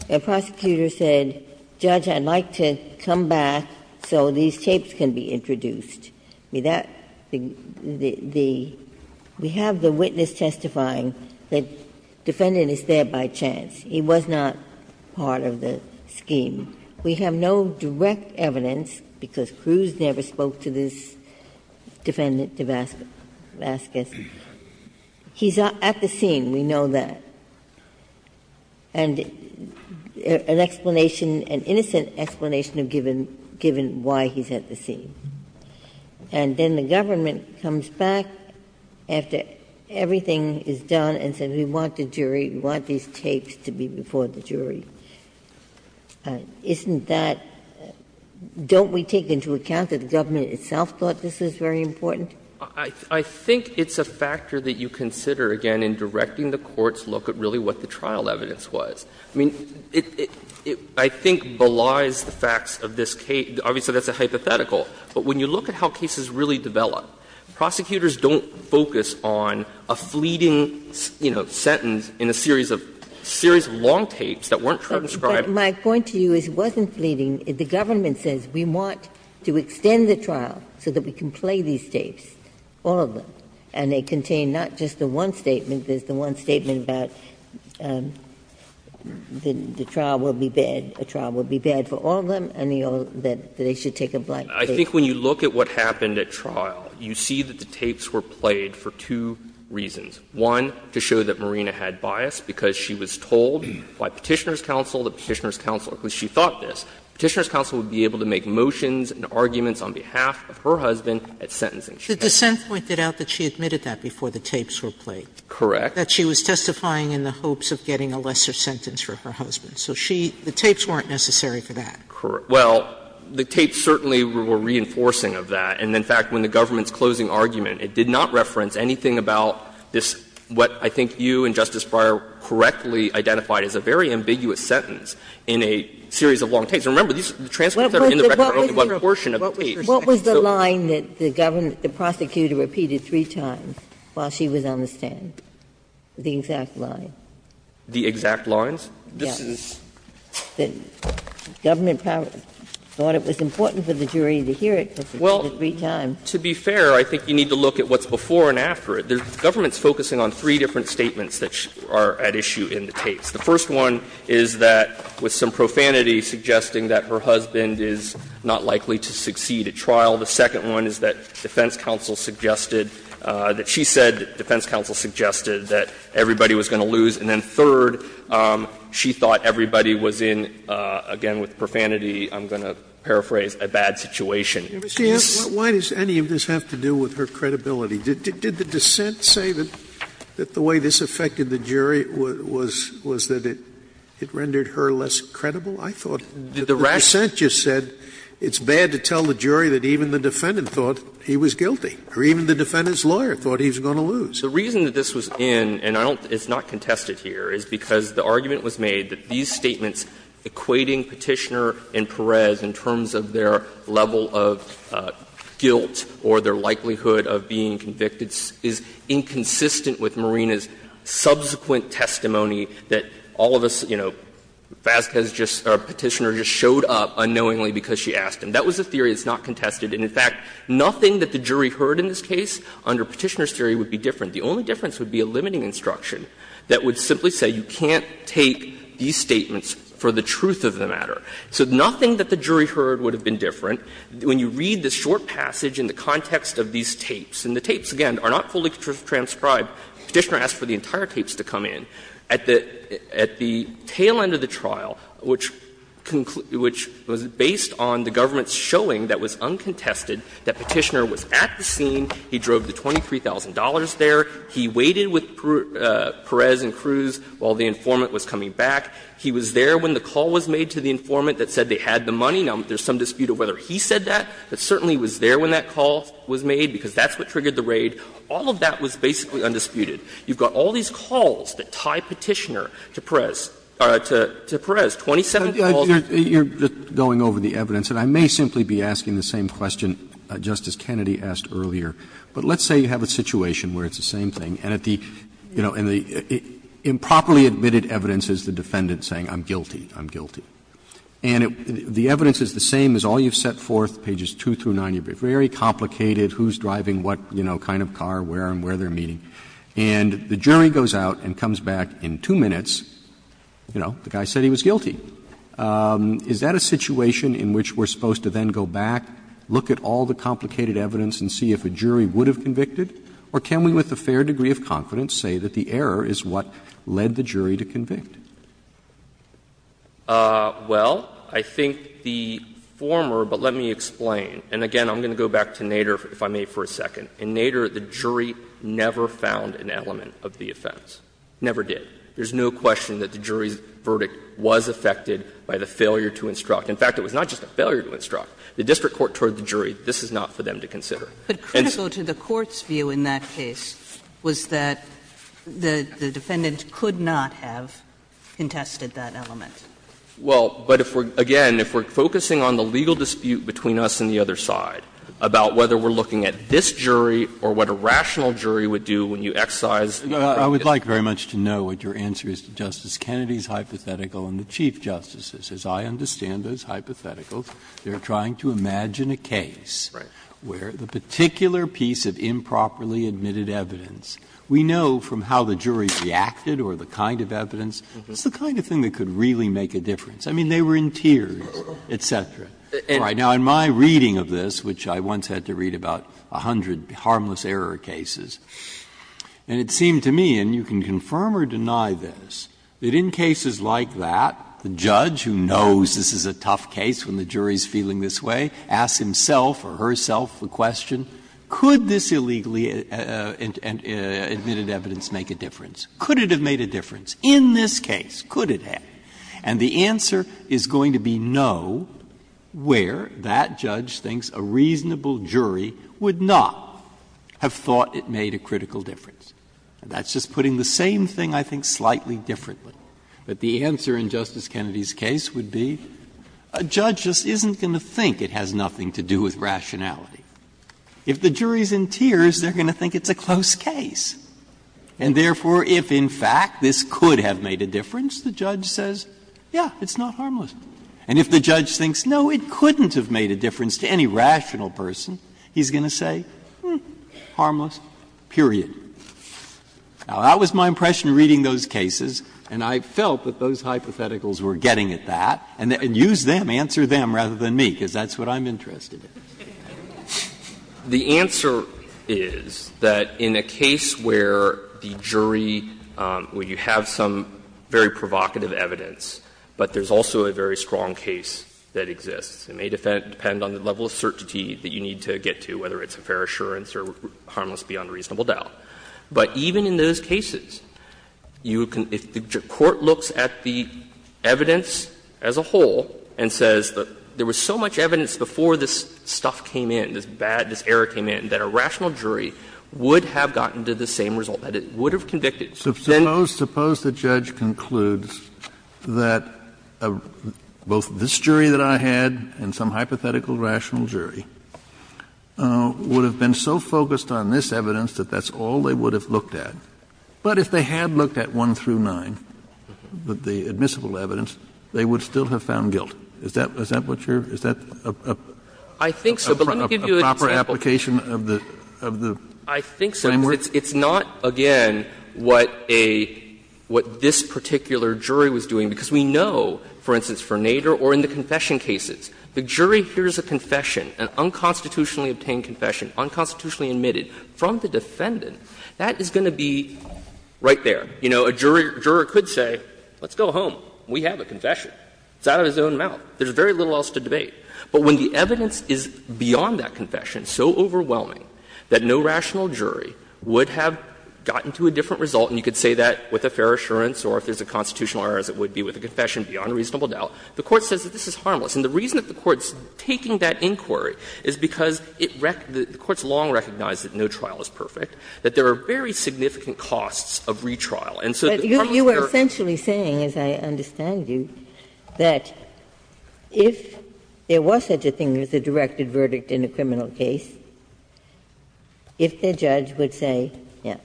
The prosecutor said, Judge, I'd like to come back so these tapes can be introduced. We have the witness testifying that the defendant is there by chance. He was not part of the scheme. We have no direct evidence, because Cruz never spoke to this defendant, DeVasquez. He's at the scene. We know that. And an explanation, an innocent explanation, given why he's at the scene. And then the government comes back after everything is done and says, we want the jury, we want these tapes to be before the jury. Isn't that — don't we take into account that the government itself thought this was very important? I think it's a factor that you consider, again, in directing the Court's look at really what the trial evidence was. I mean, it — it, I think, belies the facts of this case. Obviously, that's a hypothetical. But when you look at how cases really develop, prosecutors don't focus on a fleeting, you know, sentence in a series of long tapes that weren't transcribed. Ginsburg. But my point to you is it wasn't fleeting. The government says, we want to extend the trial so that we can play these tapes, all of them. And they contain not just the one statement. There's the one statement about the trial will be bad, a trial will be bad for all of them, and they all — that they should take a black tape. I think when you look at what happened at trial, you see that the tapes were played for two reasons. One, to show that Marina had bias, because she was told by Petitioner's counsel, the Petitioner's counsel, because she thought this, Petitioner's counsel would be able to make motions and arguments on behalf of her husband at sentencing. Sotomayor, The dissent pointed out that she admitted that before the tapes were played. Correct. That she was testifying in the hopes of getting a lesser sentence for her husband. So she — the tapes weren't necessary for that. Well, the tapes certainly were reinforcing of that. And in fact, when the government's closing argument, it did not reference anything about this, what I think you and Justice Breyer correctly identified as a very ambiguous sentence in a series of long tapes. And remember, these transcripts that are in the record are only one portion of the tapes. What was the line that the prosecutor repeated three times while she was on the stand, the exact line? The exact lines? Yes. The government thought it was important for the jury to hear it, because it was three times. Well, to be fair, I think you need to look at what's before and after it. The government's focusing on three different statements that are at issue in the tapes. The first one is that, with some profanity, suggesting that her husband is not likely to succeed at trial. The second one is that defense counsel suggested that she said that defense counsel suggested that everybody was going to lose. And then third, she thought everybody was in, again with profanity, I'm going to paraphrase, a bad situation. Scalia, why does any of this have to do with her credibility? Did the dissent say that the way this affected the jury was that it rendered her less credible? I thought the dissent just said it's bad to tell the jury that even the defendant thought he was guilty, or even the defendant's lawyer thought he was going to lose. So the reason that this was in, and I don't think it's not contested here, is because the argument was made that these statements equating Petitioner and Perez in terms of their level of guilt or their likelihood of being convicted is inconsistent with Marina's subsequent testimony that all of us, you know, Vasquez just or Petitioner just showed up unknowingly because she asked him. That was a theory that's not contested. And, in fact, nothing that the jury heard in this case under Petitioner's theory would be different. The only difference would be a limiting instruction that would simply say you can't take these statements for the truth of the matter. So nothing that the jury heard would have been different. When you read the short passage in the context of these tapes, and the tapes, again, are not fully transcribed. Petitioner asked for the entire tapes to come in. At the tail end of the trial, which was based on the government's showing that was there, he waited with Perez and Cruz while the informant was coming back. He was there when the call was made to the informant that said they had the money. Now, there's some dispute of whether he said that, but certainly he was there when that call was made, because that's what triggered the raid. All of that was basically undisputed. You've got all these calls that tie Petitioner to Perez, to Perez, 27 calls. Roberts, you're going over the evidence, and I may simply be asking the same question that Justice Kennedy asked earlier. But let's say you have a situation where it's the same thing, and at the, you know, in the improperly admitted evidence is the defendant saying, I'm guilty, I'm guilty. And the evidence is the same as all you've set forth, pages 2 through 9. You've got very complicated, who's driving what, you know, kind of car, where and where they're meeting. And the jury goes out and comes back in two minutes, you know, the guy said he was guilty. Is that a situation in which we're supposed to then go back, look at all the complicated evidence and see if a jury would have convicted? Or can we with a fair degree of confidence say that the error is what led the jury to convict? Well, I think the former, but let me explain. And again, I'm going to go back to Nader, if I may, for a second. In Nader, the jury never found an element of the offense, never did. There's no question that the jury's verdict was affected by the failure to instruct. In fact, it was not just a failure to instruct. The district court toward the jury, this is not for them to consider. And so to the court's view in that case was that the defendant could not have contested that element. Well, but if we're, again, if we're focusing on the legal dispute between us and the other side about whether we're looking at this jury or what a rational jury would do when you excise. Breyer. I would like very much to know what your answer is to Justice Kennedy's hypothetical and the Chief Justice's. As I understand those hypotheticals, they're trying to imagine a case where the particular piece of improperly admitted evidence, we know from how the jury reacted or the kind of evidence, it's the kind of thing that could really make a difference. I mean, they were in tears, et cetera. Now, in my reading of this, which I once had to read about a hundred harmless error cases, and it seemed to me, and you can confirm or deny this, that in cases like that, the judge who knows this is a tough case when the jury is feeling this way, asks himself or herself the question, could this illegally admitted evidence make a difference? Could it have made a difference in this case? Could it have? And the answer is going to be no, where that judge thinks a reasonable jury would not have thought it made a critical difference. That's just putting the same thing, I think, slightly differently. But the answer in Justice Kennedy's case would be a judge just isn't going to think it has nothing to do with rationality. If the jury is in tears, they're going to think it's a close case. And therefore, if in fact this could have made a difference, the judge says, yes, it's not harmless. And if the judge thinks, no, it couldn't have made a difference to any rational person, he's going to say, hmm, harmless, period. Now, that was my impression reading those cases, and I felt that those hypotheticals were getting at that, and use them, answer them rather than me, because that's what I'm interested in. Yang. Yang. The answer is that in a case where the jury, where you have some very provocative evidence, but there's also a very strong case that exists, it may depend on the level of certainty that you need to get to, whether it's a fair assurance or harmless beyond reasonable doubt. But even in those cases, you can — if the court looks at the evidence as a whole and says that there was so much evidence before this stuff came in, this bad, this error came in, that a rational jury would have gotten to the same result, that it would have convicted. Kennedy. Suppose the judge concludes that both this jury that I had and some hypothetical rational jury would have been so focused on this evidence that that's all they would have looked at. But if they had looked at 1 through 9, the admissible evidence, they would still have found guilt. Is that what you're — is that a proper application of the framework? I think so, but it's not, again, what a — what this particular jury was doing. Because we know, for instance, for Nader or in the confession cases, the jury hears a confession, an unconstitutionally obtained confession, unconstitutionally admitted from the defendant, that is going to be right there. You know, a jury — a juror could say, let's go home. We have a confession. It's out of his own mouth. There's very little else to debate. But when the evidence is beyond that confession, so overwhelming, that no rational jury would have gotten to a different result, and you could say that with a fair assurance or if there's a constitutional error as it would be with a confession beyond a reasonable doubt, the Court says that this is harmless. And the reason that the Court's taking that inquiry is because it — the Court's long recognized that no trial is perfect, that there are very significant costs And so the harmless jury — But you are essentially saying, as I understand you, that if there was such a thing as a directed verdict in a criminal case, if the judge would say, yes,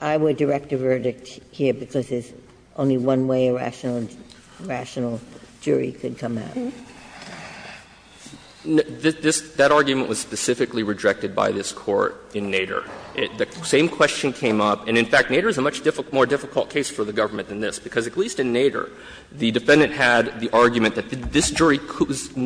I would direct a verdict here because there's only one way a rational jury could come out. Yang, that argument was specifically rejected by this Court in Nader. The same question came up, and, in fact, Nader is a much more difficult case for the government than this, because at least in Nader, the defendant had the argument that this jury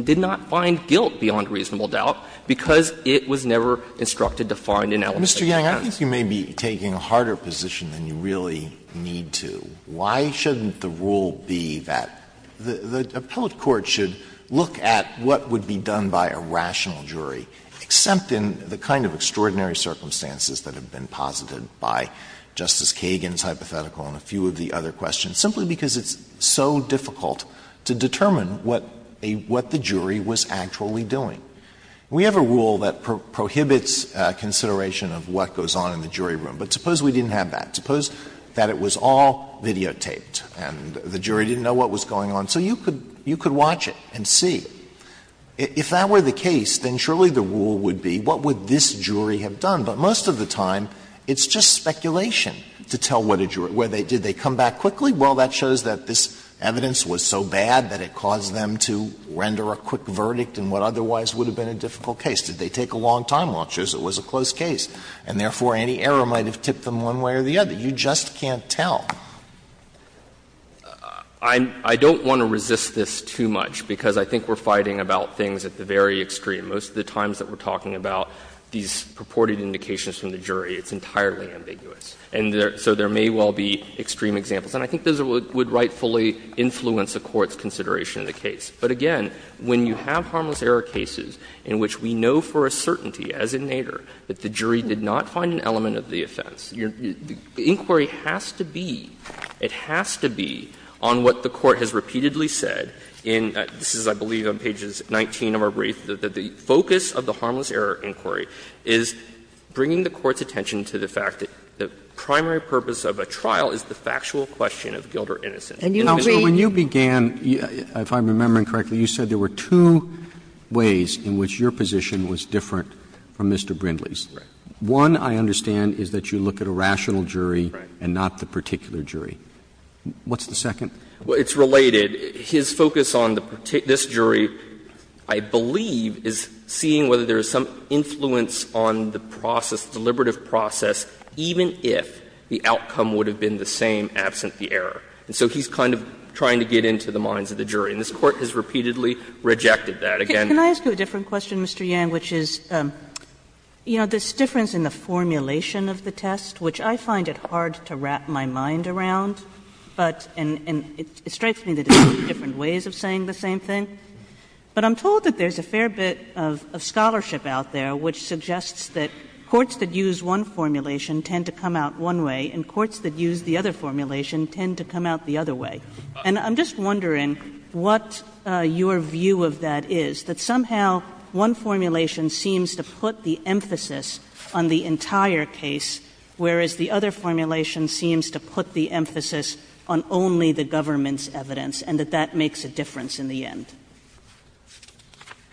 did not find guilt beyond reasonable doubt because it was never instructed to find an element of doubt. Alito, Mr. Yang, I think you may be taking a harder position than you really need to. Why shouldn't the rule be that the appellate court should look at what would be done by a rational jury, except in the kind of extraordinary circumstances that have been posited by Justice Kagan's hypothetical and a few of the other questions, simply because it's so difficult to determine what a — what the jury was actually doing? We have a rule that prohibits consideration of what goes on in the jury room. But suppose we didn't have that. Suppose that it was all videotaped and the jury didn't know what was going on. So you could watch it and see. If that were the case, then surely the rule would be, what would this jury have done? But most of the time, it's just speculation to tell what a jury — did they come back quickly? Well, that shows that this evidence was so bad that it caused them to render a quick verdict in what otherwise would have been a difficult case. Did they take a long time watch as it was a close case? And therefore, any error might have tipped them one way or the other. You just can't tell. I'm — I don't want to resist this too much, because I think we're fighting about things at the very extreme. Most of the times that we're talking about these purported indications from the jury, it's entirely ambiguous. And so there may well be extreme examples. And I think those would rightfully influence a court's consideration of the case. But again, when you have harmless error cases in which we know for a certainty, as in Nader, that the jury did not find an element of the offense, the inquiry has to be — it has to be on what the Court has repeatedly said in — this is, I believe, on pages 19 of our brief — that the focus of the harmless error inquiry is bringing the Court's attention to the fact that the primary purpose of a trial is the factual question of guilt or innocence. And you would be — Roberts' Counsel, when you began, if I'm remembering correctly, you said there were two ways in which your position was different from Mr. Brindley's. Brindley. One, I understand, is that you look at a rational jury and not the particular jury. What's the second? Well, it's related. His focus on the particular — this jury, I believe, is seeing whether there is some influence on the process, the deliberative process, even if the outcome would have been the same absent the error. And so he's kind of trying to get into the minds of the jury. And this Court has repeatedly rejected that. Again — Kagan, can I ask you a different question, Mr. Yan, which is, you know, there's difference in the formulation of the test, which I find it hard to wrap my mind around, but — and it strikes me that it's two different ways of saying the same thing. But I'm told that there's a fair bit of scholarship out there which suggests that courts that use one formulation tend to come out one way and courts that use the other formulation tend to come out the other way. And I'm just wondering what your view of that is, that somehow one formulation seems to put the emphasis on the entire case, whereas the other formulation seems to put the emphasis on only the government's evidence, and that that makes a difference in the end.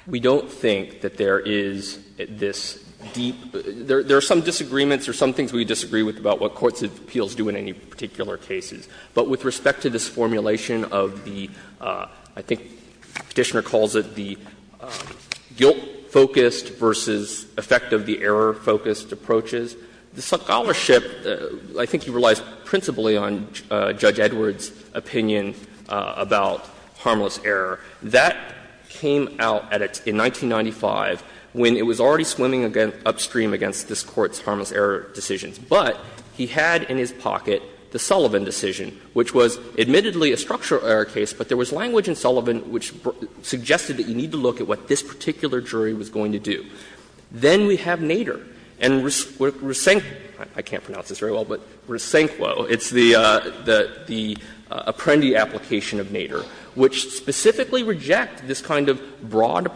We don't think that there is this deep — there are some disagreements or some things that we disagree with about what courts' appeals do in any particular cases. But with respect to this formulation of the — I think Petitioner calls it the guilt-focused versus effect of the error-focused approaches, the scholarship, I think he relies principally on Judge Edwards' opinion about harmless error. That came out in 1995 when it was already swimming upstream against this Court's recommendations. But he had in his pocket the Sullivan decision, which was admittedly a structural error case, but there was language in Sullivan which suggested that you need to look at what this particular jury was going to do. Then we have Nader and Resen — I can't pronounce this very well, but Resenquo. It's the — the Apprendi application of Nader, which specifically reject this kind of broad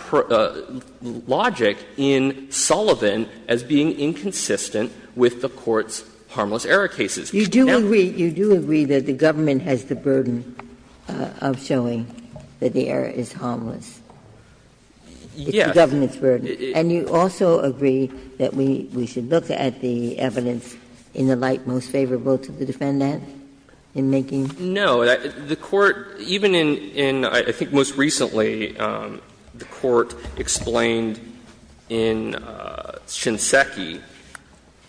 logic in Sullivan as being inconsistent with the Court's harmless error Now — Ginsburg. You do agree that the government has the burden of showing that the error is harmless. Yes. It's the government's burden. And you also agree that we should look at the evidence in the light most favorable to the defendant in making — No. The Court, even in — in, I think, most recently, the Court explained in Shinseki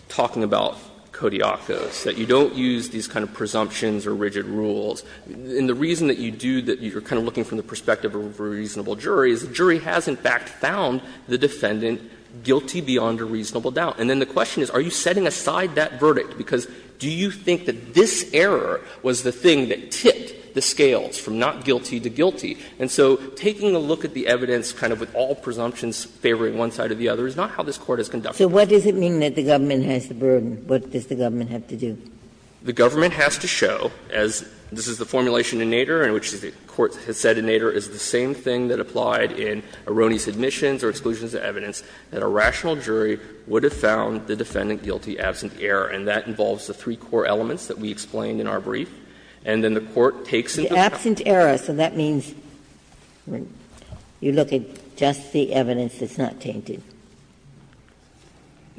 talking about Kodiakos, that you don't use these kind of presumptions or rigid rules. And the reason that you do, that you're kind of looking from the perspective of a reasonable jury, is the jury has in fact found the defendant guilty beyond a reasonable doubt. And then the question is, are you setting aside that verdict? Because do you think that this error was the thing that tipped the scales from not guilty to guilty? And so taking a look at the evidence kind of with all presumptions favoring one side of the other is not how this Court has conducted it. So what does it mean that the government has the burden? What does the government have to do? The government has to show, as this is the formulation in Nader and which the Court has said in Nader is the same thing that applied in erroneous admissions or exclusions of evidence, that a rational jury would have found the defendant guilty absent error. And that involves the three core elements that we explained in our brief. And then the Court takes into account. Ginsburg. The absent error, so that means you look at just the evidence that's not tainted.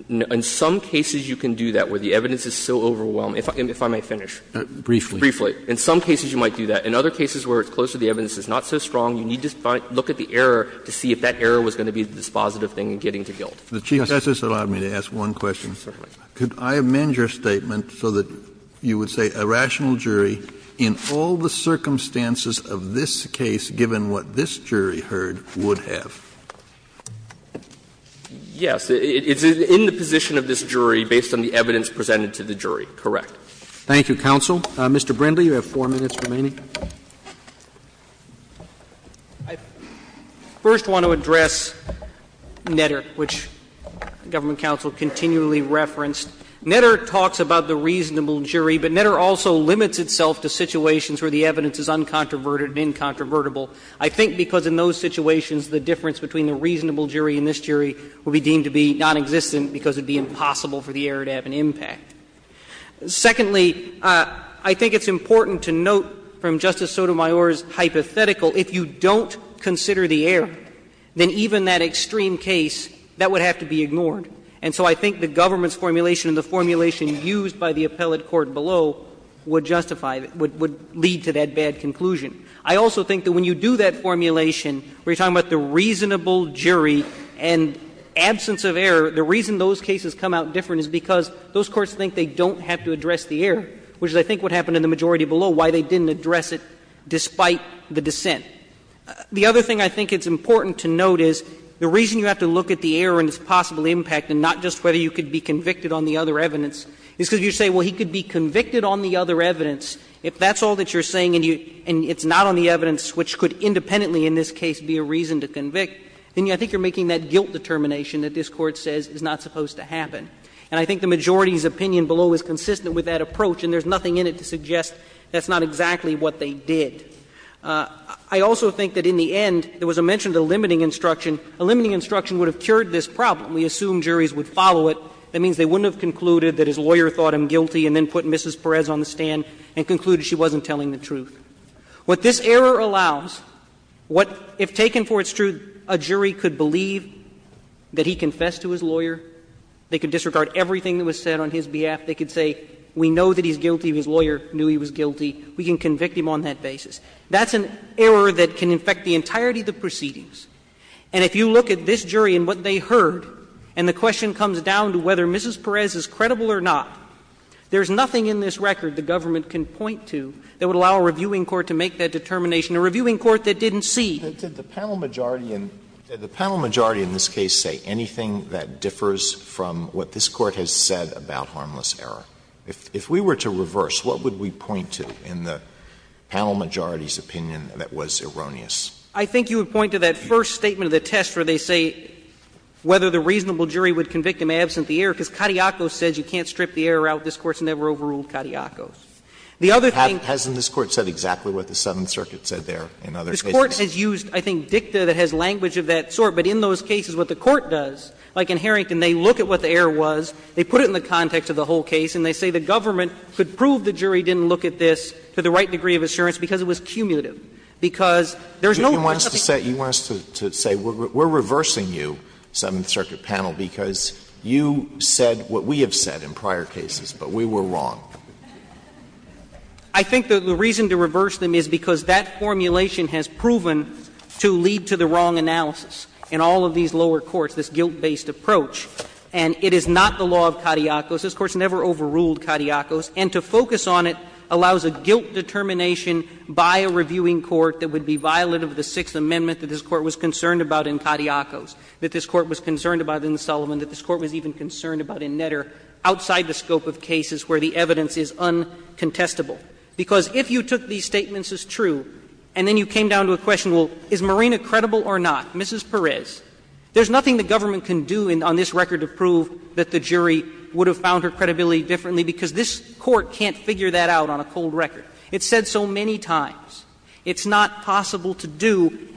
In some cases you can do that, where the evidence is so overwhelming. If I may finish. Briefly. Briefly. In some cases you might do that. In other cases where it's close to the evidence, it's not so strong, you need to look at the error to see if that error was going to be the dispositive thing in getting to guilt. Kennedy. Kennedy. Can I just allow me to ask one question? Could I amend your statement so that you would say a rational jury in all the circumstances of this case, given what this jury heard, would have? Yes. It's in the position of this jury based on the evidence presented to the jury. Correct. Thank you, counsel. Mr. Brindley, you have 4 minutes remaining. I first want to address Netter, which the government counsel continually referenced. Netter talks about the reasonable jury, but Netter also limits itself to situations where the evidence is uncontroverted and incontrovertible. I think because in those situations the difference between the reasonable jury and this jury would be deemed to be nonexistent because it would be impossible for the error to have an impact. Secondly, I think it's important to note from Justice Sotomayor's hypothetical if you don't consider the error, then even that extreme case, that would have to be ignored. And so I think the government's formulation and the formulation used by the appellate court below would justify, would lead to that bad conclusion. I also think that when you do that formulation, we're talking about the reasonable jury and absence of error, the reason those cases come out different is because those courts think they don't have to address the error, which is I think what happened in the majority below, why they didn't address it despite the dissent. The other thing I think it's important to note is the reason you have to look at the error and its possible impact, and not just whether you could be convicted on the other evidence, is because you say, well, he could be convicted on the other evidence. If that's all that you're saying and it's not on the evidence, which could independently in this case be a reason to convict, then I think you're making that guilt determination that this Court says is not supposed to happen. And I think the majority's opinion below is consistent with that approach, and there's nothing in it to suggest that's not exactly what they did. I also think that in the end, there was a mention of a limiting instruction. A limiting instruction would have cured this problem. We assume juries would follow it. That means they wouldn't have concluded that his lawyer thought him guilty and then put Mrs. Perez on the stand and concluded she wasn't telling the truth. What this error allows, what if taken for its truth, a jury could believe that he's guilty and he confessed to his lawyer, they could disregard everything that was said on his behalf, they could say, we know that he's guilty, his lawyer knew he was guilty, we can convict him on that basis. That's an error that can infect the entirety of the proceedings. And if you look at this jury and what they heard, and the question comes down to whether Mrs. Perez is credible or not, there's nothing in this record the government can point to that would allow a reviewing court to make that determination, a reviewing court that didn't see. Alito, did the panel majority in this case say anything that differs from what this Court has said about harmless error? If we were to reverse, what would we point to in the panel majority's opinion that was erroneous? I think you would point to that first statement of the test where they say whether the reasonable jury would convict him absent the error, because Katiakos says you can't strip the error out. This Court's never overruled Katiakos. The other thing is that this Court said exactly what the Southern Circuit said there in other cases. The Court has used, I think, dicta that has language of that sort, but in those cases what the Court does, like in Harrington, they look at what the error was, they put it in the context of the whole case, and they say the government could prove the jury didn't look at this to the right degree of assurance because it was cumulative, because there's no one other thing. You want us to say we're reversing you, Seventh Circuit panel, because you said what we have said in prior cases, but we were wrong. I think the reason to reverse them is because that formulation has proven to lead to the wrong analysis in all of these lower courts, this guilt-based approach. And it is not the law of Katiakos. This Court's never overruled Katiakos. And to focus on it allows a guilt determination by a reviewing court that would be violent of the Sixth Amendment that this Court was concerned about in Katiakos, that this Court was concerned about in Sullivan, that this Court was even concerned about in Netter, outside the scope of cases where the evidence is uncontestable. Because if you took these statements as true, and then you came down to a question, well, is Marina credible or not, Mrs. Perez, there's nothing the government can do on this record to prove that the jury would have found her credibility differently, because this Court can't figure that out on a cold record. It's said so many times. It's not possible to do,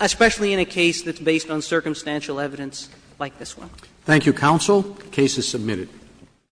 especially in a case that's based on circumstantial evidence like this one. Thank you, counsel. Case is submitted.